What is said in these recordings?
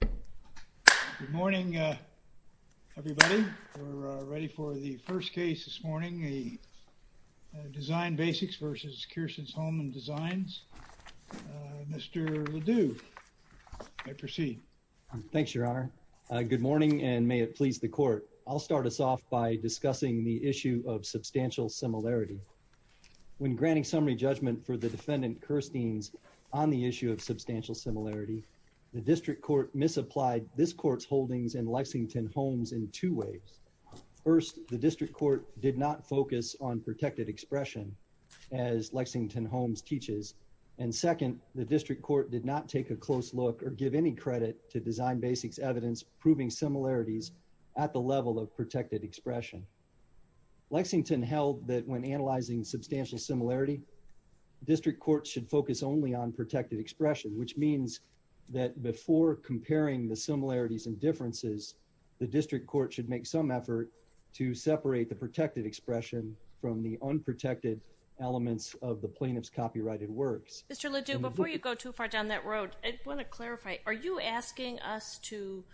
Good morning, everybody. We're ready for the first case this morning, the Design Basics v. Kerstiens Homes & Designs. Mr. Ledoux, you may proceed. Thanks, Your Honor. Good morning, and may it please the Court. I'll start us off by discussing the issue of substantial similarity. When granting summary judgment for the defendant Kerstiens on the issue of substantial similarity, the District Court misapplied this Court's holdings in Lexington Homes in two ways. First, the District Court did not focus on protected expression, as Lexington Homes teaches, and second, the District Court did not take a close look or give any credit to Design Basics' evidence proving similarities at the level of protected expression. Lexington held that when analyzing substantial similarity, District Court should focus only on protected expression, which means that before comparing the similarities and differences, the District Court should make some effort to separate the protected expression from the unprotected elements of the plaintiff's copyrighted works. Mr. Ledoux, before you go too far down that road, I want to clarify, are you asking us to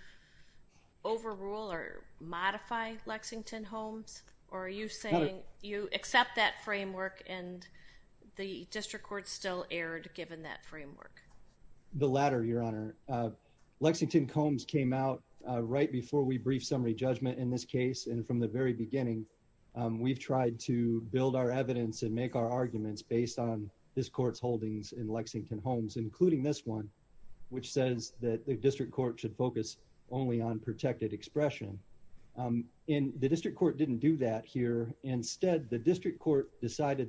overrule or modify Lexington Homes, or are you saying you accept that framework and the District Court still erred given that framework? The latter, Your Honor. Lexington Homes came out right before we briefed summary judgment in this case, and from the very beginning, we've tried to build our evidence and make our arguments based on this Court's holdings in Lexington Homes, including this one, which says that the District Court should focus only on protected expression. The District Court decided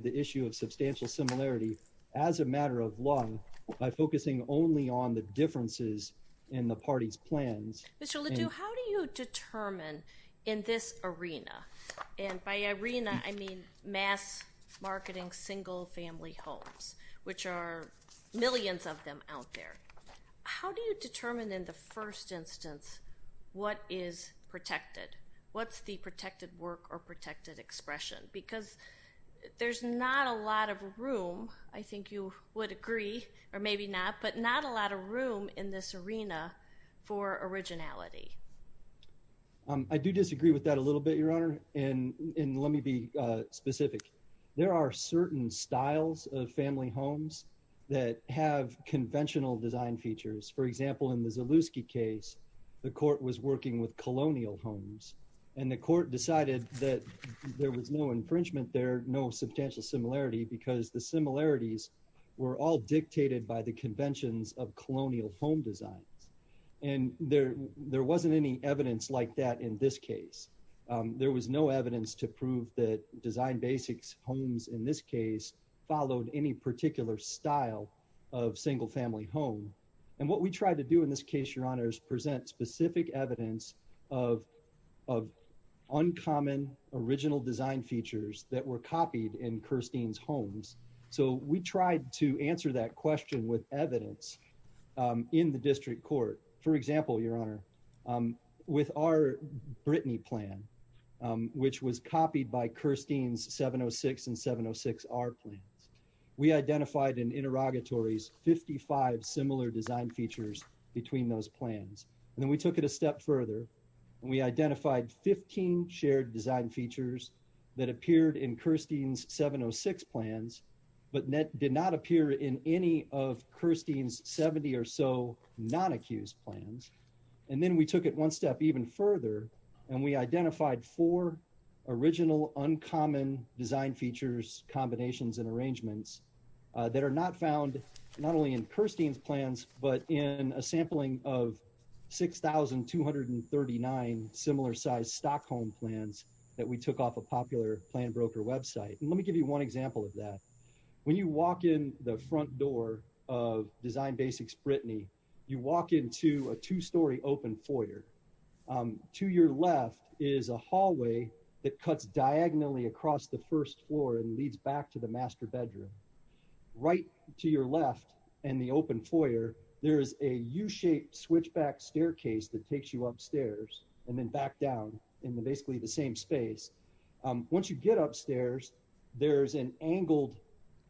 the issue of substantial similarity as a matter of law by focusing only on the differences in the party's plans. Mr. Ledoux, how do you determine in this arena, and by arena, I mean mass marketing single-family homes, which are millions of them out there, how do you determine in the first instance what is protected? What's the protected work or protected expression? Because there's not a lot of room, I think you would agree, or maybe not, but not a lot of room in this arena for originality. I do disagree with that a little bit, Your Honor, and let me be specific. There are certain styles of family homes that have conventional design features. For example, in the Zalewski case, the Court was working with colonial homes, and the Court decided that there was no infringement there, no substantial similarity, because the similarities were all dictated by the conventions of colonial home designs. And there wasn't any evidence like that in this case. There was no evidence to prove that design basics homes in this case followed any particular style of single-family home. And what we tried to do in this case, Your Honor, is present specific evidence of uncommon original design features that were copied in Kirstein's homes. So we tried to answer that question with evidence in the District Court. For example, Your Honor, with our Brittany plan, which was copied by Kirstein's 706 and we identified in interrogatories 55 similar design features between those plans. And then we took it a step further, and we identified 15 shared design features that appeared in Kirstein's 706 plans, but did not appear in any of Kirstein's 70 or so non-accused plans. And then we took it one step even further, and we identified four original uncommon design features, combinations, and arrangements that are not found not only in Kirstein's plans, but in a sampling of 6,239 similar size Stockholm plans that we took off a popular plan broker website. Let me give you one example of that. When you walk in the front door of Design Basics Brittany, you walk into a two-story open foyer. To your left is a hallway that leads back to the master bedroom. Right to your left in the open foyer, there is a U-shaped switchback staircase that takes you upstairs and then back down in basically the same space. Once you get upstairs, there's an angled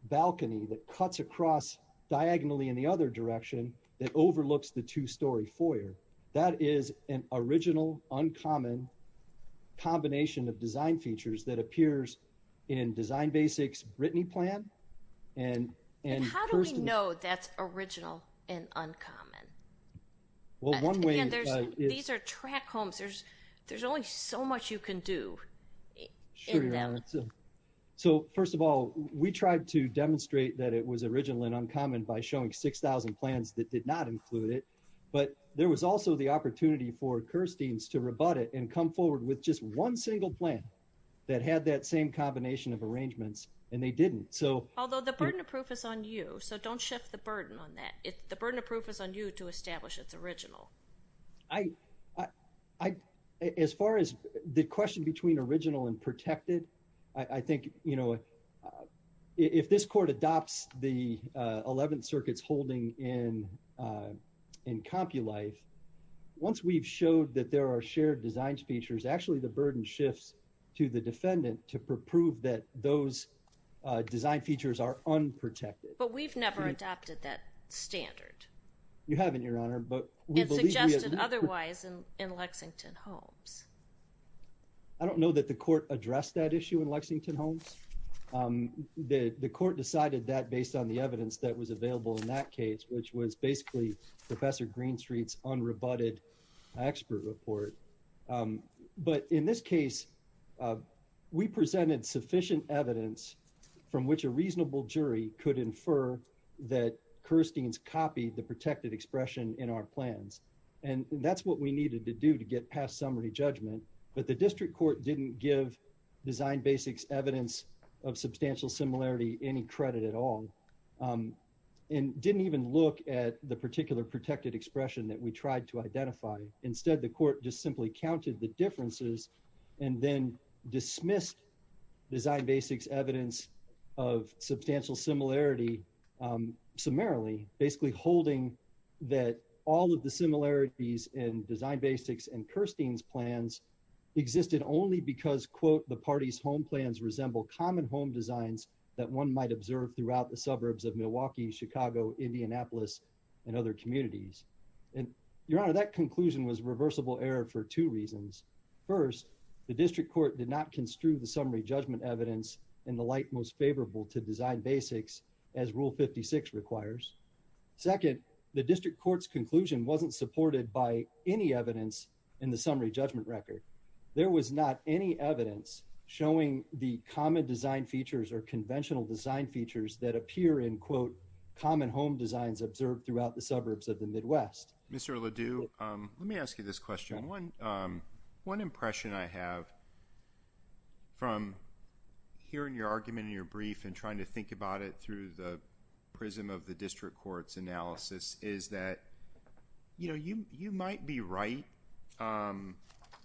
balcony that cuts across diagonally in the other direction that overlooks the two-story foyer. That is an original uncommon combination of design features that appears in Design Basics Brittany plan and Kirstein's. How do we know that's original and uncommon? These are track homes. There's only so much you can do. So first of all, we tried to demonstrate that it was original and uncommon by showing 6,000 plans that did not include it, but there was also the opportunity for Kirstein's to rebut it and come forward with just one single plan that had that same combination of arrangements and they didn't. Although the burden of proof is on you, so don't shift the burden on that. The burden of proof is on you to establish it's original. As far as the question between original and protected, I think if this court adopts the 11th Circuit's holding in CompuLife, once we've showed that there are shared design features, actually the burden shifts to the defendant to prove that those design features are unprotected. But we've never adopted that standard. You haven't, Your Honor, but it's suggested otherwise in Lexington homes. I don't know that the court addressed that issue in Lexington homes. The court decided that based on the evidence that was available in that report. But in this case, we presented sufficient evidence from which a reasonable jury could infer that Kirstein's copied the protected expression in our plans and that's what we needed to do to get past summary judgment. But the district court didn't give design basics evidence of substantial similarity any credit at all and didn't even look at the particular protected expression that we tried to identify. Instead, the court just simply counted the differences and then dismissed design basics evidence of substantial similarity summarily, basically holding that all of the similarities in design basics and Kirstein's plans existed only because, quote, the party's home plans resemble common home designs that one might observe throughout the suburbs of Milwaukee, Chicago, Indianapolis and other communities. And Your Honor, that conclusion was reversible error for two reasons. First, the district court did not construe the summary judgment evidence in the light most favorable to design basics as Rule 56 requires. Second, the district court's conclusion wasn't supported by any evidence in the summary judgment record. There was not any evidence showing the common design features or conventional design features that appear in, quote, common home designs observed throughout the suburbs of the Midwest. Mr. Ledoux, let me ask you this question. One impression I have from hearing your argument in your brief and trying to think about it through the prism of the district court's analysis is that, you know, you might be right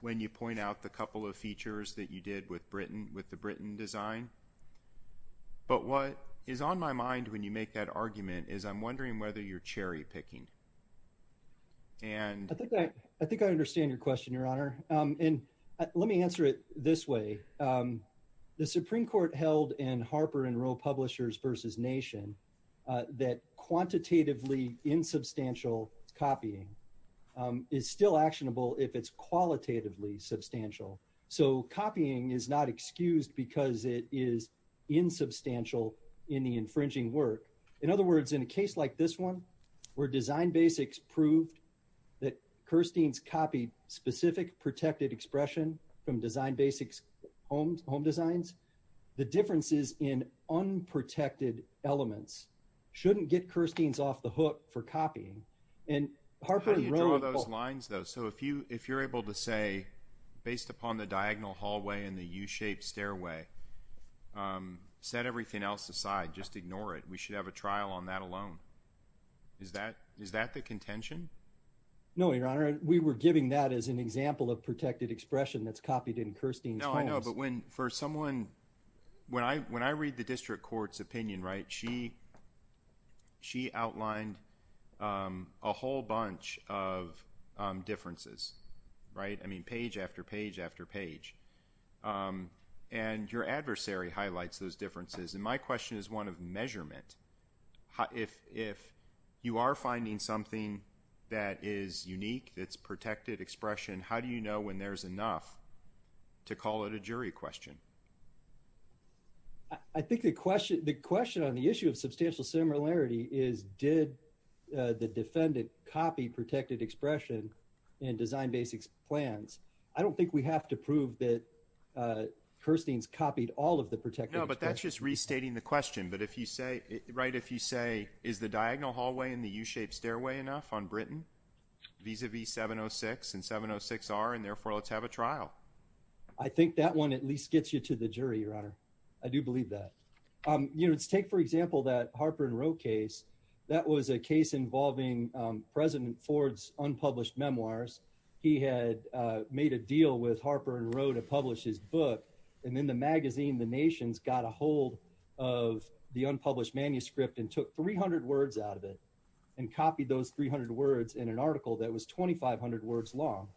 when you point out the couple of features that you did with Britain, with the Britain design. But what is on my mind when you make that argument is I'm wondering whether you're cherry picking. And I think I think I understand your question, Your Honor. And let me answer it this way. The Supreme Court held in Harper and Roe Publishers versus Nation that quantitatively insubstantial copying is still actionable if it's qualitatively substantial. So copying is not excused because it is insubstantial in the infringing work. In other words, in a case like this one, where design basics proved that Kirstein's copied specific protected expression from design basics home home designs, the differences in unprotected elements shouldn't get Kirstein's off the hook for copying. And Harper and Roe. Those lines, though, so if you if you're able to say based upon the diagonal hallway in the U shaped stairway, set everything else aside, just ignore it. We should have a trial on that alone. Is that is that the contention? No, Your Honor. We were giving that as an example of protected expression that's copied in Kirstein's. No, I know. But when for someone when I when I read the district court's opinion, right, she she outlined a whole bunch of differences. Right. I mean, page after page after page. And your adversary highlights those differences. And my question is one of measurement. If if you are finding something that is unique, that's protected expression, how do you know when there's enough to call it a jury question? I think the question the question on the issue of substantial similarity is did the defendant copy protected expression and design basics plans? I don't think we have to prove that Kirstein's copied all of the protected. No, but that's just restating the question. But if you say it right, if you say is the diagonal hallway in the U shaped stairway enough on Britain vis-a-vis 706 and 706 are and therefore let's have a trial. I think that one at least gets you to the jury, your honor. I do believe that, you know, let's take, for example, that Harper and Rowe case. That was a case involving President Ford's unpublished memoirs. He had made a deal with Harper and Rowe to publish his book. And in the magazine, the nation's got a hold of the unpublished manuscript and took 300 words out of it and copied those 300 words in an article that was 2500 words long.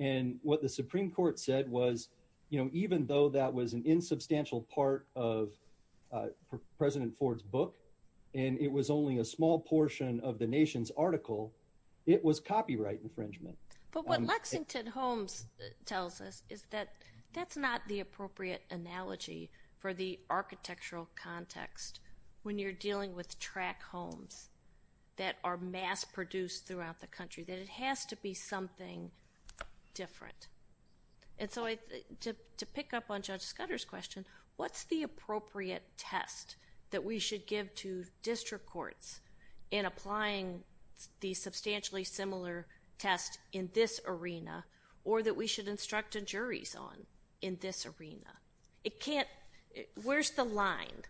And what the Supreme Court said was, you know, even though that was an insubstantial part of President Ford's book, and it was only a small portion of the nation's article, it was copyright infringement. But what Lexington Holmes tells us is that that's not the appropriate analogy for the architectural context. When you're dealing with track homes that are mass produced throughout the country, that it has to be something different. And so to pick up on Judge Scudder's question, what's the appropriate test that we should give to district courts in applying the substantially similar test in this arena, or that we should instruct the juries on in this arena? It can't, where's the line?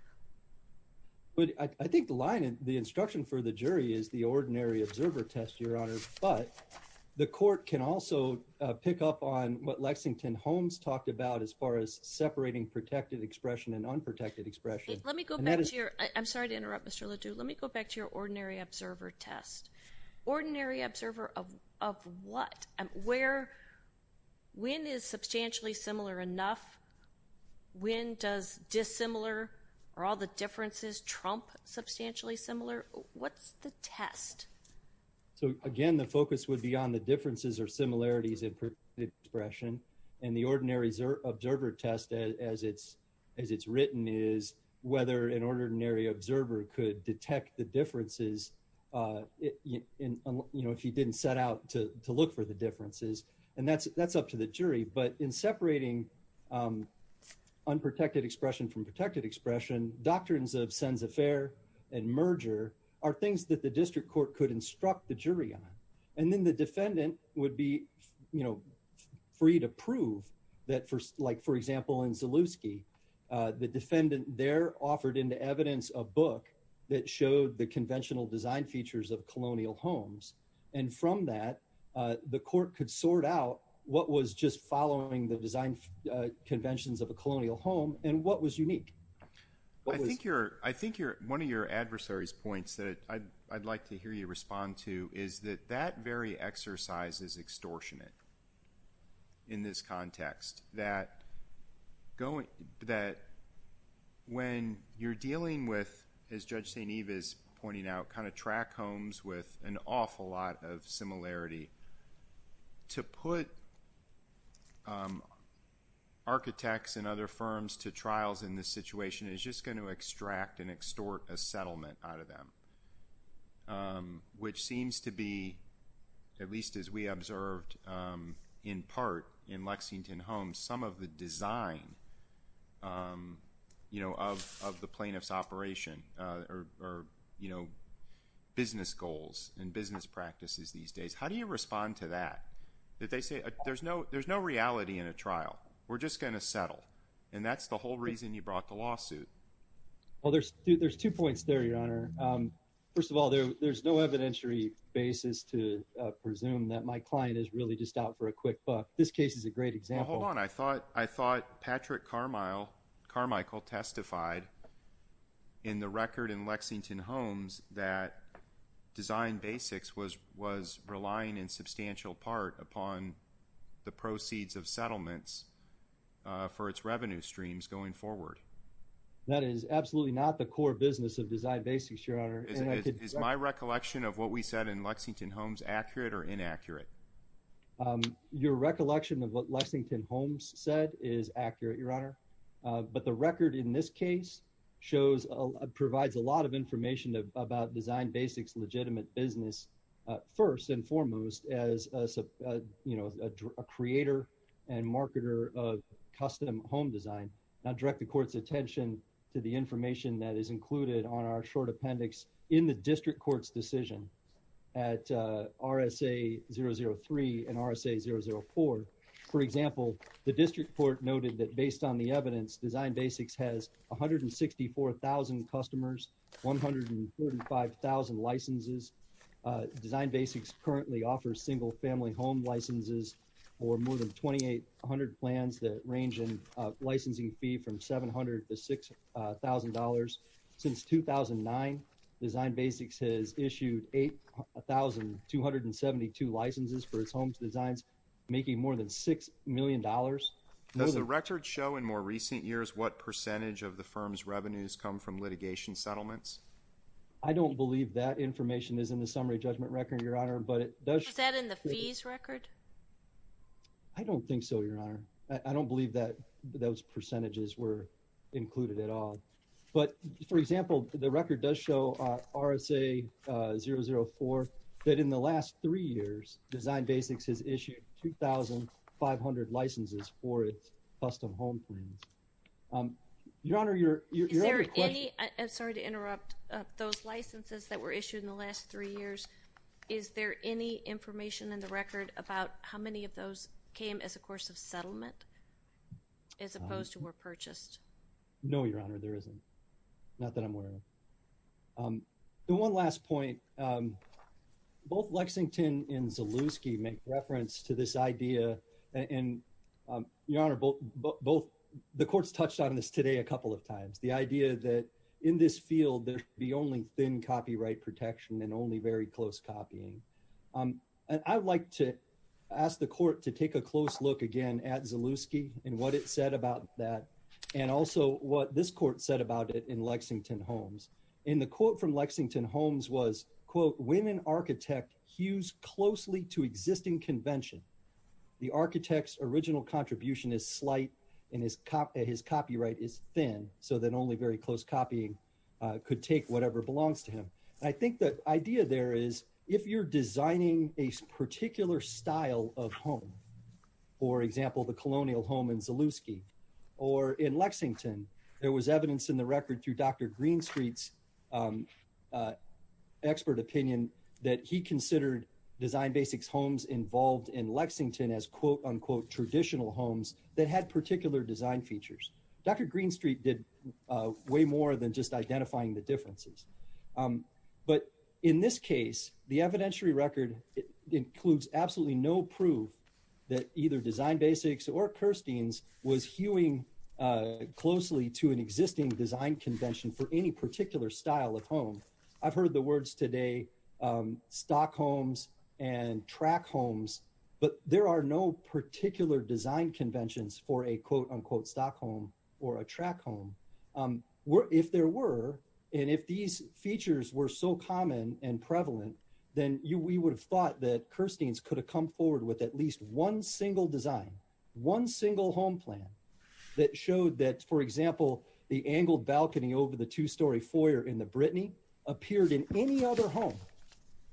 But I think the line and the instruction for the jury is the ordinary observer test, Your Honor. But the court can also pick up on what Lexington Holmes talked about as far as separating protected expression and unprotected expression. Let me go back to your, I'm sorry to interrupt, Mr. LeDoux, let me go back to your ordinary observer test. Ordinary observer of what? Where, when is substantially similar enough? When does dissimilar, are all the differences trump substantially similar? What's the test? So again, the focus would be on the differences or similarities in expression. And the ordinary observer test as it's written is whether an ordinary observer could detect the differences if you didn't set out to look for the differences. And that's up to the jury. But in separating unprotected expression from protected expression, doctrines of sens affaire and merger are things that the district court could instruct the jury on. And then the defendant would be, you know, free to prove that for like, for example, in Zalewski, the defendant there offered into evidence a book that showed the conventional design features of just following the design conventions of a colonial home. And what was unique? I think one of your adversary's points that I'd like to hear you respond to is that that very exercise is extortionate in this context. That when you're dealing with, as Judge St. Eve is pointing out, kind of track homes with an awful lot of similarity to put architects and other firms to trials in this situation is just going to extract and extort a settlement out of them, which seems to be, at least as we observed in part in Lexington homes, some of the design, you know, of the plaintiff's operation or, you know, business goals and practices these days. How do you respond to that? That they say there's no reality in a trial. We're just going to settle. And that's the whole reason you brought the lawsuit. Well, there's two points there, Your Honor. First of all, there's no evidentiary basis to presume that my client is really just out for a quick buck. This case is a great example. Hold on. I thought Patrick Carmichael testified in the record in Lexington homes that design basics was relying in substantial part upon the proceeds of settlements for its revenue streams going forward. That is absolutely not the core business of design basics, Your Honor. Is my recollection of what we said in Lexington homes accurate or inaccurate? Your recollection of what Lexington homes said is accurate, Your Honor. But the record in this case shows, provides a lot of information about design basics legitimate business, first and foremost, as a, you know, a creator and marketer of custom home design. Now direct the court's attention to the information that is included on our short appendix in the district court's decision at RSA 003 and RSA 004. For example, the district court noted that based on the evidence, design basics has 164,000 customers, 145,000 licenses. Design basics currently offers single family home licenses or more than 2,800 plans that range in licensing fee from 700 to $6,000. Since 2009, design basics has issued 8,272 licenses for its homes designs, making more than six million dollars. Does the record show in more recent years what percentage of the firm's revenues come from litigation settlements? I don't believe that information is in the summary judgment record, Your Honor, but it does. Is that in the fees record? I don't think so, Your Honor. I don't believe that those percentages were included at all. But for example, the record does show RSA 004 that in the last three years, design basics has issued 2,500 licenses for its custom home plans. Your Honor, your only question- Is there any, I'm sorry to interrupt, those licenses that were issued in the last three years, is there any information in the record about how many of those came as a course of settlement as opposed to were purchased? No, Your Honor, there isn't. Not that I'm aware of. And one last point. Both Lexington and Zalewski make reference to this idea, and Your Honor, the courts touched on this today a couple of times, the idea that in this field, there should be only thin copyright protection and only very close copying. And I would like to ask the court to take a close look again at Zalewski and what it said about that, and also what this court said about it in Lexington Homes. In the quote from Lexington Homes was, quote, when an architect hews closely to existing convention, the architect's original contribution is slight, and his copyright is thin, so that only very close copying could take whatever belongs to him. I think the idea there is, if you're designing a particular style of home, for example, the colonial home in Zalewski, or in Lexington, there was evidence in the record through Dr. Greenstreet's expert opinion that he considered Design Basics homes involved in Lexington as, quote, unquote, traditional homes that had particular design features. Dr. Greenstreet did way more than just identifying the differences. But in this case, the evidentiary record includes absolutely no proof that either Design Basics or Kirstein's was hewing closely to an existing design convention for any particular style of home. I've heard the words today, stock homes and track homes, but there are no particular design conventions for a, quote, unquote, stock home or a track home. If there were, and if these features were so common and prevalent, then we would have thought that Kirstein's could have come forward with at least one single design, one single home plan that showed that, for example, the angled balcony over the two-story foyer in the Brittany appeared in any other home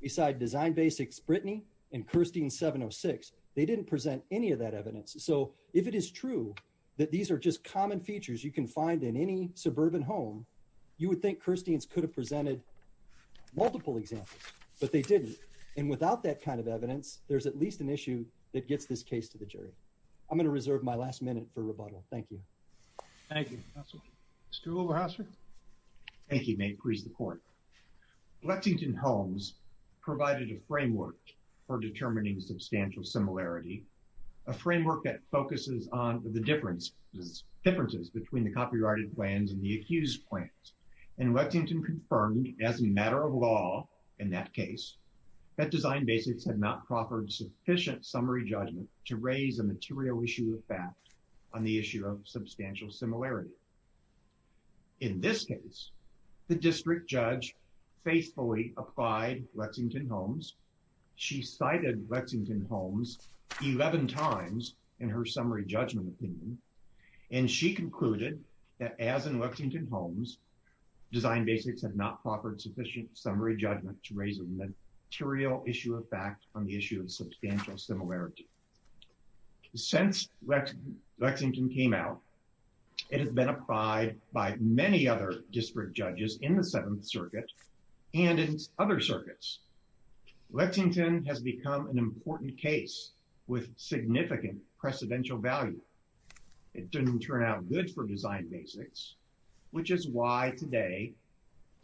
besides Design Basics' Brittany and Kirstein's 706. They didn't present any of that evidence. So if it is true that these are just common features you can find in any suburban home, you would think Kirstein's could have presented multiple examples, but they didn't. And without that kind of evidence, there's at least an issue that gets this case to the jury. I'm going to reserve my last minute for rebuttal. Thank you. Thank you, counsel. Mr. Wilberhouser. Thank you. May it please the court. Lexington Homes provided a framework for determining substantial similarity, a framework that focuses on the differences between the copyrighted plans and the accused plans. And Lexington confirmed as a matter of law in that case that Design Basics had not proffered sufficient summary judgment to raise a material issue of fact on the issue of substantial similarity. In this case, the district judge faithfully applied Lexington Homes. She cited Lexington Homes 11 times in her summary judgment opinion, and she concluded that as in Lexington Homes, Design Basics had not proffered sufficient summary judgment to raise a material issue of fact on the issue of substantial similarity. Since Lexington came out, it has been applied by many other district judges in the Seventh Circuit and in other circuits. Lexington has become an important case with significant precedential value. It didn't turn out good for Design Basics, which is why today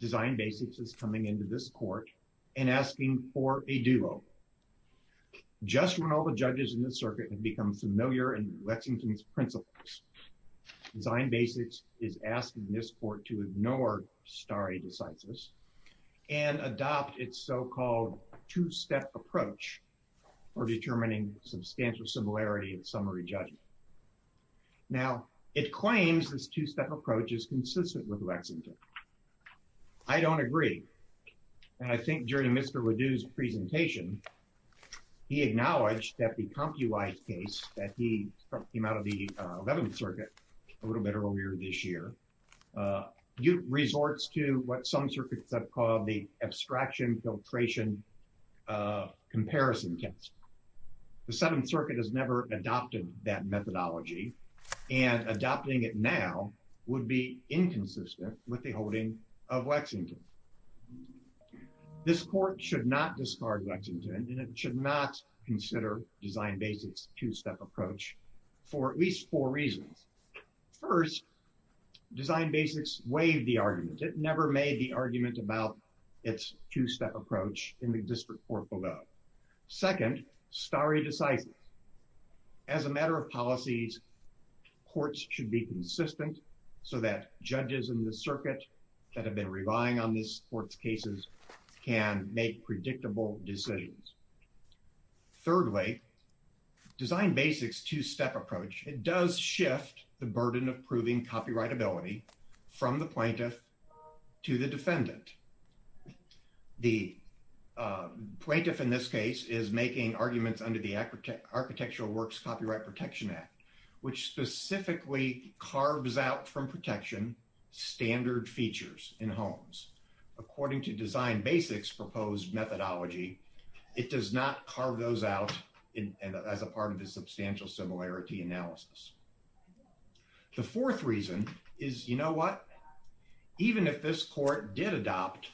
Design Basics is coming into this court and asking for a duo. Just when all the judges in the circuit have become familiar in Lexington's principles, Design Basics is asking this court to ignore stare decisis and adopt its so-called two-step approach for determining substantial similarity in summary judgment. Now, it claims this two-step approach is consistent with Lexington. I don't agree, and I think during Mr. Ledoux's presentation, he acknowledged that the CompuEye case that he came out of the Eleventh Circuit a little bit earlier this year, resorts to what some circuits have called the abstraction filtration comparison test. The Seventh Circuit has never adopted that methodology, and adopting it now would be inconsistent with the holding of Lexington. This court should not discard Lexington, and it should not consider Design Basics' two-step approach for at least four reasons. First, Design Basics waived the argument. It never made the argument about its two-step approach in the Second, stare decisis. As a matter of policies, courts should be consistent so that judges in the circuit that have been relying on this court's cases can make predictable decisions. Thirdly, Design Basics' two-step approach, it does shift the burden of proving copyrightability from the plaintiff to the defendant. The plaintiff in this case is making arguments under the Architectural Works Copyright Protection Act, which specifically carves out from protection standard features in homes. According to Design Basics' proposed methodology, it does not carve those out as a part of the substantial similarity analysis. The fourth reason is, you know what? Even if this court did adopt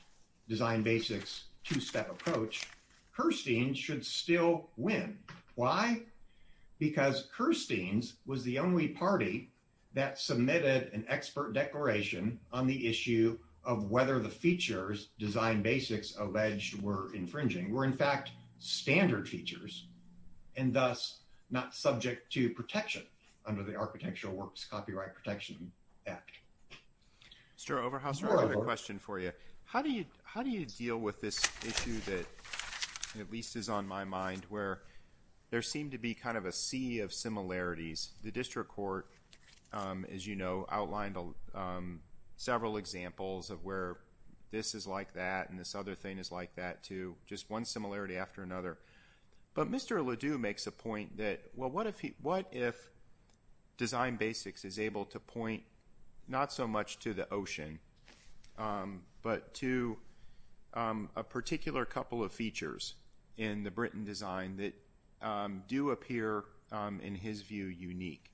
Design Basics' two-step approach, Kirstein should still win. Why? Because Kirstein's was the only party that submitted an expert declaration on the issue of whether the features Design Basics alleged were infringing were, in not subject to protection under the Architectural Works Copyright Protection Act. Mr. Overhauser, I have a question for you. How do you deal with this issue that, at least is on my mind, where there seemed to be kind of a sea of similarities? The district court, as you know, outlined several examples of where this is like that and this other thing is like that too, just one similarity after another. But Mr. Ledoux makes a point that, well, what if Design Basics is able to point not so much to the ocean, but to a particular couple of features in the Brinton design that do appear, in his view, unique?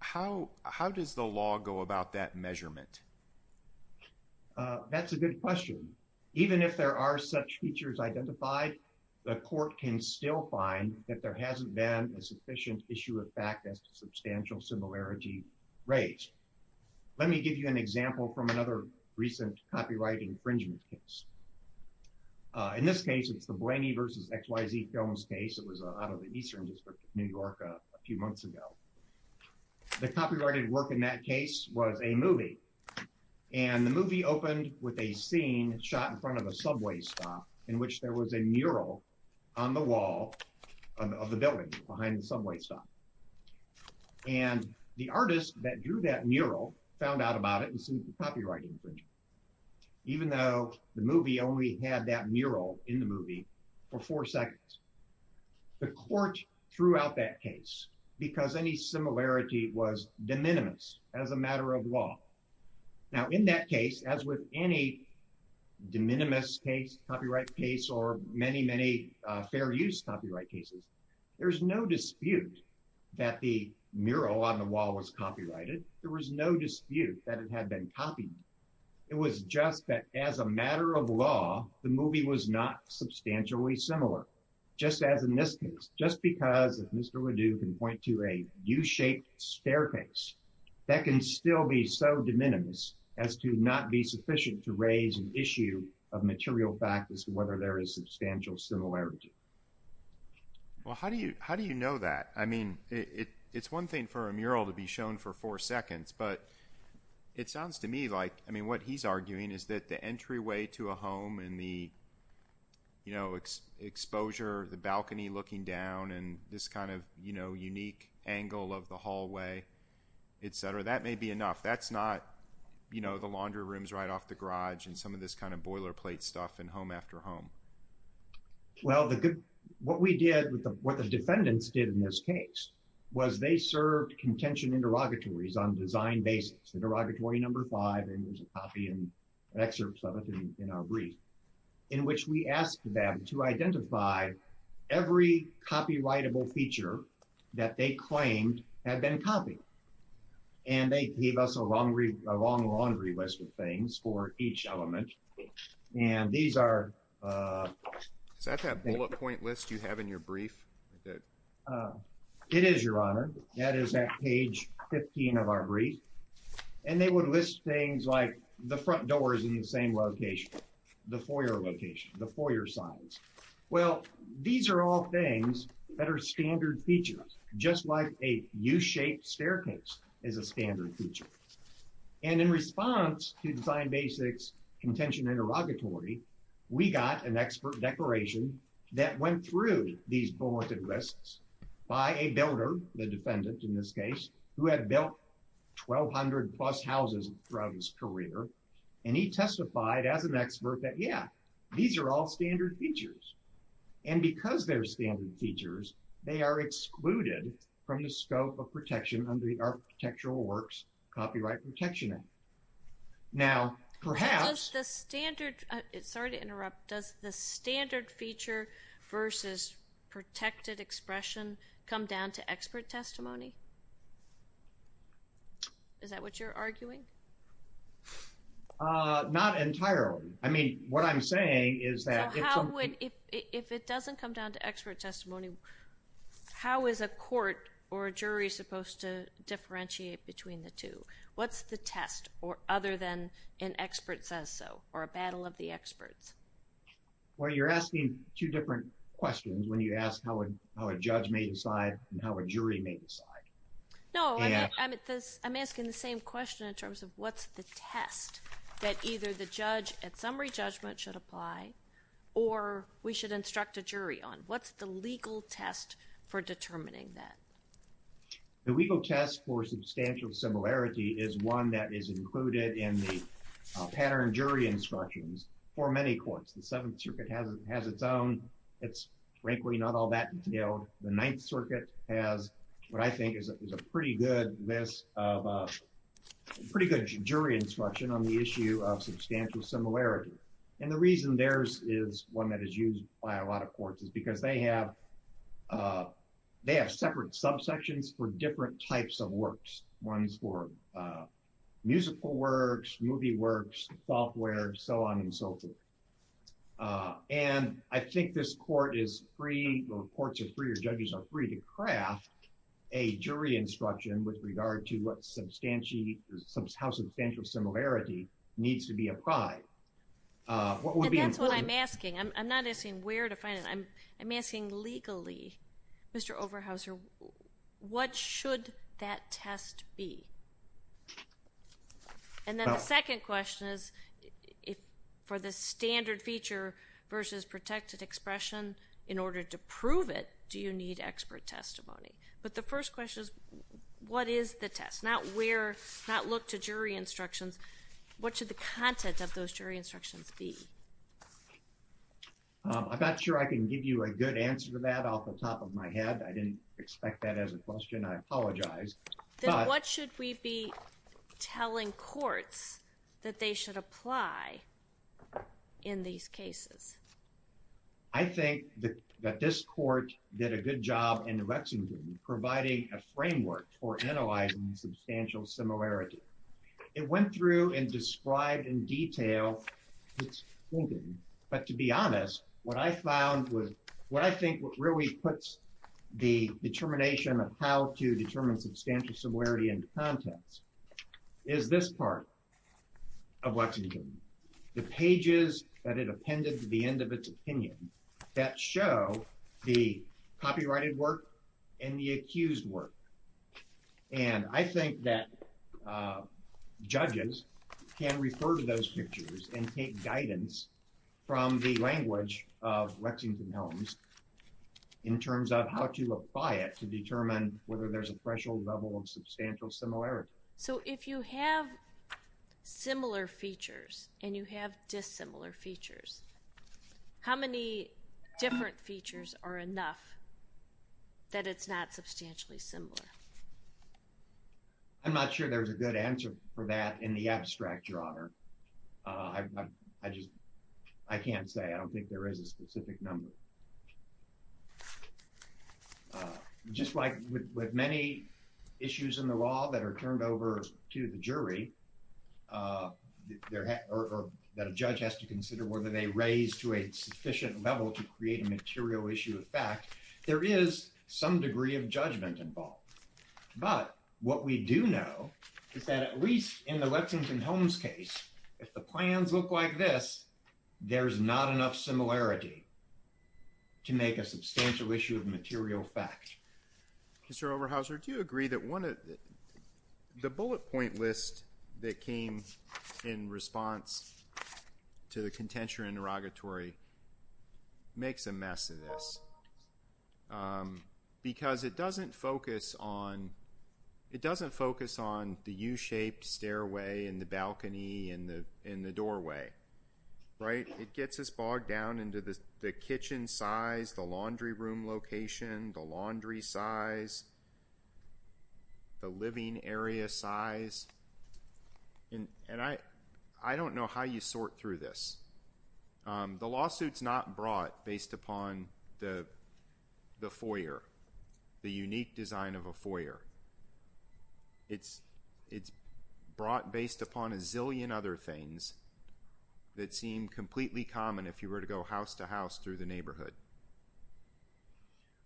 How does the law go about that measurement? That's a good question. Even if there are such features identified, the court can still find that there hasn't been a sufficient issue of fact as to substantial similarity raised. Let me give you an example from another recent copyright infringement case. In this case, it's the Blaney versus XYZ Films case. It was out of the Eastern District of New York a few months ago. The movie opened with a scene shot in front of a subway stop in which there was a mural on the wall of the building behind the subway stop. The artist that drew that mural found out about it and sued the copyright infringement, even though the movie only had that mural in the movie for four seconds. The court threw out that case because any similarity was de minimis as a matter of law. Now, in that case, as with any de minimis case, copyright case, or many, many fair use copyright cases, there's no dispute that the mural on the wall was copyrighted. There was no dispute that it had been copied. It was just that as a matter of law, the movie was not substantially similar, just as in this case, just because if Mr. Ledoux can point to a U-shaped staircase, that can still be so de minimis as to not be sufficient to raise an issue of material fact as to whether there is substantial similarity. Well, how do you know that? I mean, it's one thing for a mural to be shown for four seconds, but it sounds to me like, I mean, what he's arguing is that the entryway to a home and the, you know, exposure, the balcony looking down and this kind of, you know, unique angle of the hallway, et cetera, that may be enough. That's not, you know, the laundry rooms right off the garage and some of this kind of boilerplate stuff and home after home. Well, the good, what we did, what the defendants did in this case was they served contention interrogatories on design basis, the derogatory number five, and there's a copy and excerpts of our brief in which we asked them to identify every copyrightable feature that they claimed had been copied. And they gave us a long laundry list of things for each element. And these are... Is that that bullet point list you have in your brief? It is, Your Honor. That is at page 15 of our brief. And they would list things like the front door is in the same location, the foyer location, the foyer size. Well, these are all things that are standard features, just like a U-shaped staircase is a standard feature. And in response to design basics, contention interrogatory, we got an expert declaration that went through these bulleted lists by a builder, the defendant in this case, who had built 1,200 plus houses throughout his career. And he testified as an expert that, yeah, these are all standard features. And because they're standard features, they are excluded from the scope of protection under the Architectural Works Copyright Protection Act. Now, perhaps... Does the standard... Sorry to interrupt. Does the standard feature versus protected expression come down to expert testimony? Is that what you're arguing? Not entirely. I mean, what I'm saying is that... So, how would... If it doesn't come down to expert testimony, how is a court or a jury supposed to differentiate between the two? What's the test, other than an expert says so, or a battle of the experts? Well, you're asking two different questions when you ask how a judge may decide and how a jury may decide. No, I'm asking the same question in terms of what's the test that either the judge at summary judgment should apply or we should instruct a jury on. What's the legal test for determining that? The legal test for substantial similarity is one that is included in the pattern jury instructions for many courts. The Seventh Circuit has its own. It's frankly not all that detailed. The Ninth Circuit has what I think is a pretty good list of... Pretty good jury instruction on the issue of substantial similarity. And the reason theirs is one that is used by a lot of courts is because they have separate subsections for different types of works, ones for musical works, movie works, software, so on and so forth. And I think this court is free or courts are free or judges are free to craft a jury instruction with regard to what substantial... How substantial similarity needs to be applied. What would be important... And that's what I'm asking. I'm not asking where to find it. I'm asking legally, Mr. Overhauser, what should that test be? And then the second question is if for the standard feature versus protected expression in order to prove it, do you need expert testimony? But the first question is what is the test? Not where, not look to jury instructions. What should the content of those jury instructions be? I'm not sure I can give you a good answer to that off the top of my head. I didn't expect that as a question. I apologize. Then what should we be telling courts that they should apply in these cases? I think that this court did a good job in Lexington providing a framework for analyzing substantial similarity. It went through and described in detail its thinking. But to be honest, what I found was, what I think really puts the determination of how to determine substantial similarity in contents is this part of Lexington. The pages that it appended to the end of its opinion that show the copyrighted work and the accused work. And I think that judges can refer to those pictures and take guidance from the language of Lexington Helms in terms of how to apply it to determine whether there's a threshold level of substantial similarity. So if you have similar features and you have dissimilar features, how many different features are enough that it's not substantially similar? I'm not sure there's a good answer for that in the abstract, Your Honor. I just, I can't say. I don't think there is a specific number. Just like with many issues in the law that are turned over to the jury or that a judge has to consider whether they raise to a sufficient level to create a material issue of fact, there is some degree of judgment involved. But what we do know is that at least in the Lexington Helms case, if the plans look like this, there's not enough similarity to make a substantial issue of material fact. Mr. Oberhauser, do you agree that one of The bullet point list that came in response to the contention interrogatory makes a mess of this. Because it doesn't focus on, it doesn't focus on the U-shaped stairway and the balcony and the doorway, right? It gets us bogged down into the kitchen size, the laundry room location, the laundry size, the living area size. And I don't know how you sort through this. The lawsuit's not brought based upon the foyer, the unique design of a foyer. It's brought based upon a zillion other things that seem completely common if you were to go house-to-house through the neighborhood.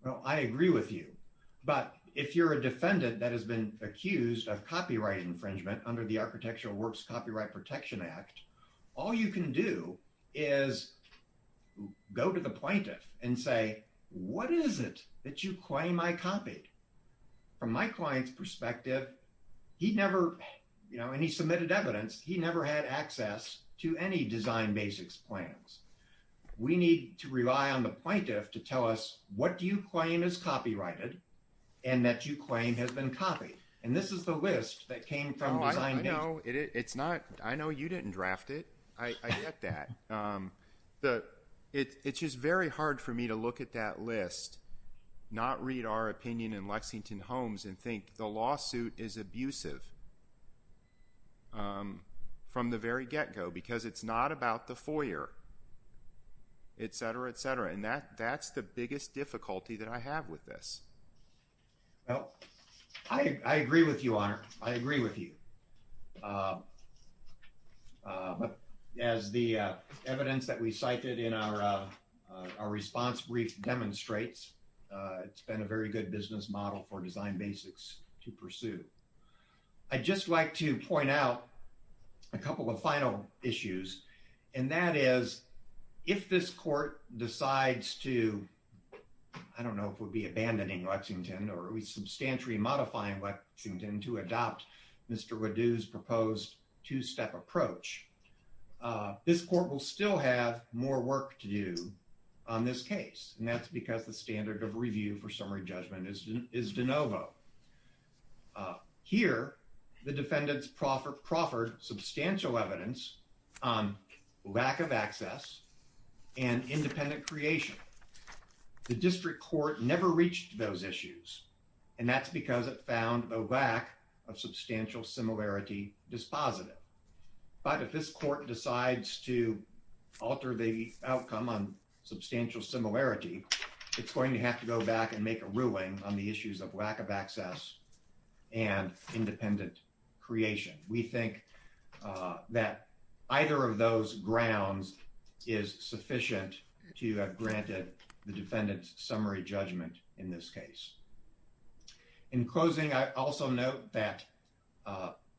Well, I agree with you. But if you're a defendant that has been accused of copyright infringement under the Architectural Works Copyright Protection Act, all you can do is go to the plaintiff and say, what is it that you claim I copied? From my client's perspective, he never, you know, and he submitted evidence, he never had access to any design basics plans. We need to rely on the plaintiff to tell us, what do you claim is copyrighted and that you claim has been copied? And this is the list that came from design. No, it's not. I know you didn't draft it. I get that. It's just very hard for me to look at that list, not read our opinion in Lexington Homes and think the lawsuit is abusive from the very get-go, because it's not about the foyer, etc., etc. And that's the biggest difficulty that I have with this. Well, I agree with you, Honor. I agree with you. But as the evidence that we cited in our response brief demonstrates, it's been a very good business for design basics to pursue. I'd just like to point out a couple of final issues, and that is, if this court decides to, I don't know if it would be abandoning Lexington or at least substantially modifying Lexington to adopt Mr. Waddu's proposed two-step approach, this court will still have more work to do on this case, and that's because the standard of de novo. Here, the defendants proffered substantial evidence on lack of access and independent creation. The district court never reached those issues, and that's because it found a lack of substantial similarity dispositive. But if this court decides to alter the outcome on substantial similarity, it's going to have to go back and make a ruling on the issues of lack of access and independent creation. We think that either of those grounds is sufficient to have granted the defendant's summary judgment in this case. In closing, I also note that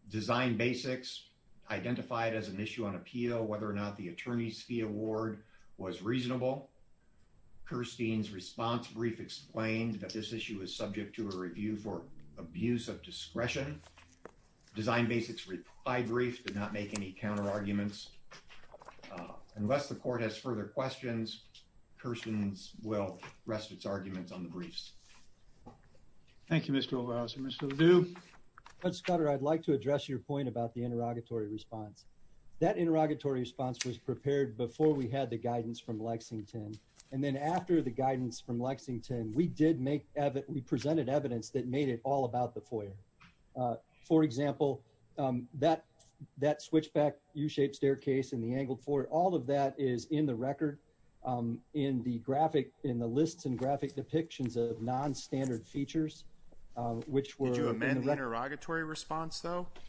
design basics identified as an issue on appeal, whether or not the attorney's award was reasonable. Kirstein's response brief explained that this issue is subject to a review for abuse of discretion. Design basics' reply brief did not make any counter-arguments. Unless the court has further questions, Kirsten's will rest its arguments on the briefs. Thank you, Mr. Olivas and Mr. Waddu. Judge Scudder, I'd like to address your point about the interrogatory response. That interrogatory response was prepared before we had the guidance from Lexington, and then after the guidance from Lexington, we presented evidence that made it all about the foyer. For example, that switchback U-shaped staircase and the angled floor, all of that is in the record in the lists and graphic depictions of non-standard features, which were in the records.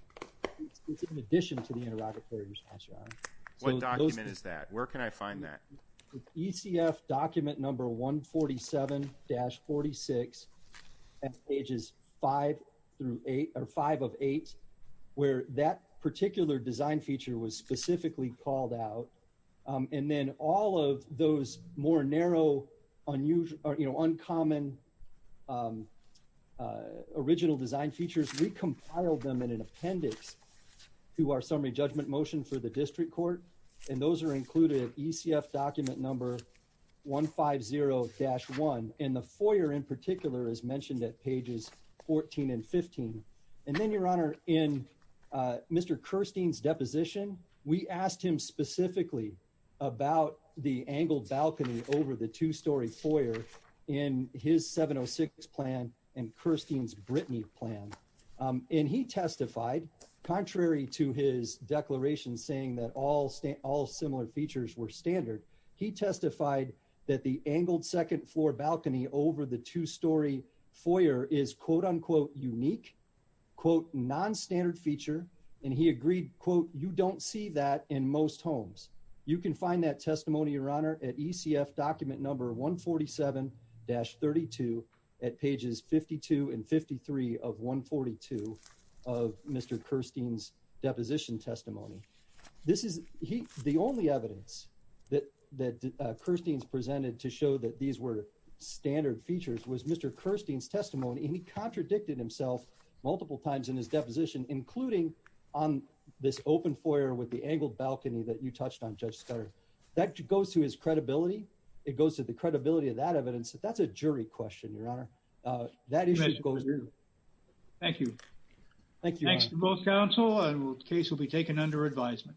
Where can I find that? ECF document number 147-46, pages 5-8, where that particular design feature was specifically called out, and then all of those more narrow, unusual, you know, uncommon original design features, we compiled them in an appendix to our summary judgment motion for the district court, and those are included in ECF document number 150-1, and the foyer in particular is mentioned at pages 14 and 15. And then, Your Honor, in Mr. Kirstein's deposition, we asked him specifically about the angled balcony over the two-story foyer in his 706 plan and Kirstein's Brittany plan, and he testified, contrary to his declaration saying that all similar features were standard, he testified that the angled second floor balcony over the two-story foyer is, quote-unquote, unique, quote, non-standard feature, and he agreed, quote, you don't see that in most homes. You can find that testimony, Your Honor, at ECF document number 147-32 at pages 52 and 53 of 142 of Mr. Kirstein's deposition testimony. This is the only evidence that Kirstein's presented to show that these were standard features was Mr. Kirstein's testimony, and he contradicted himself multiple times in his deposition, including on this open foyer with the angled balcony that you touched on, Judge Scudder. That goes to his credibility. It goes to the credibility of that evidence. That's a jury question, Your Honor. That issue goes to you. Thank you. Thank you. Thanks to both counsel, and the case will be taken under advisement.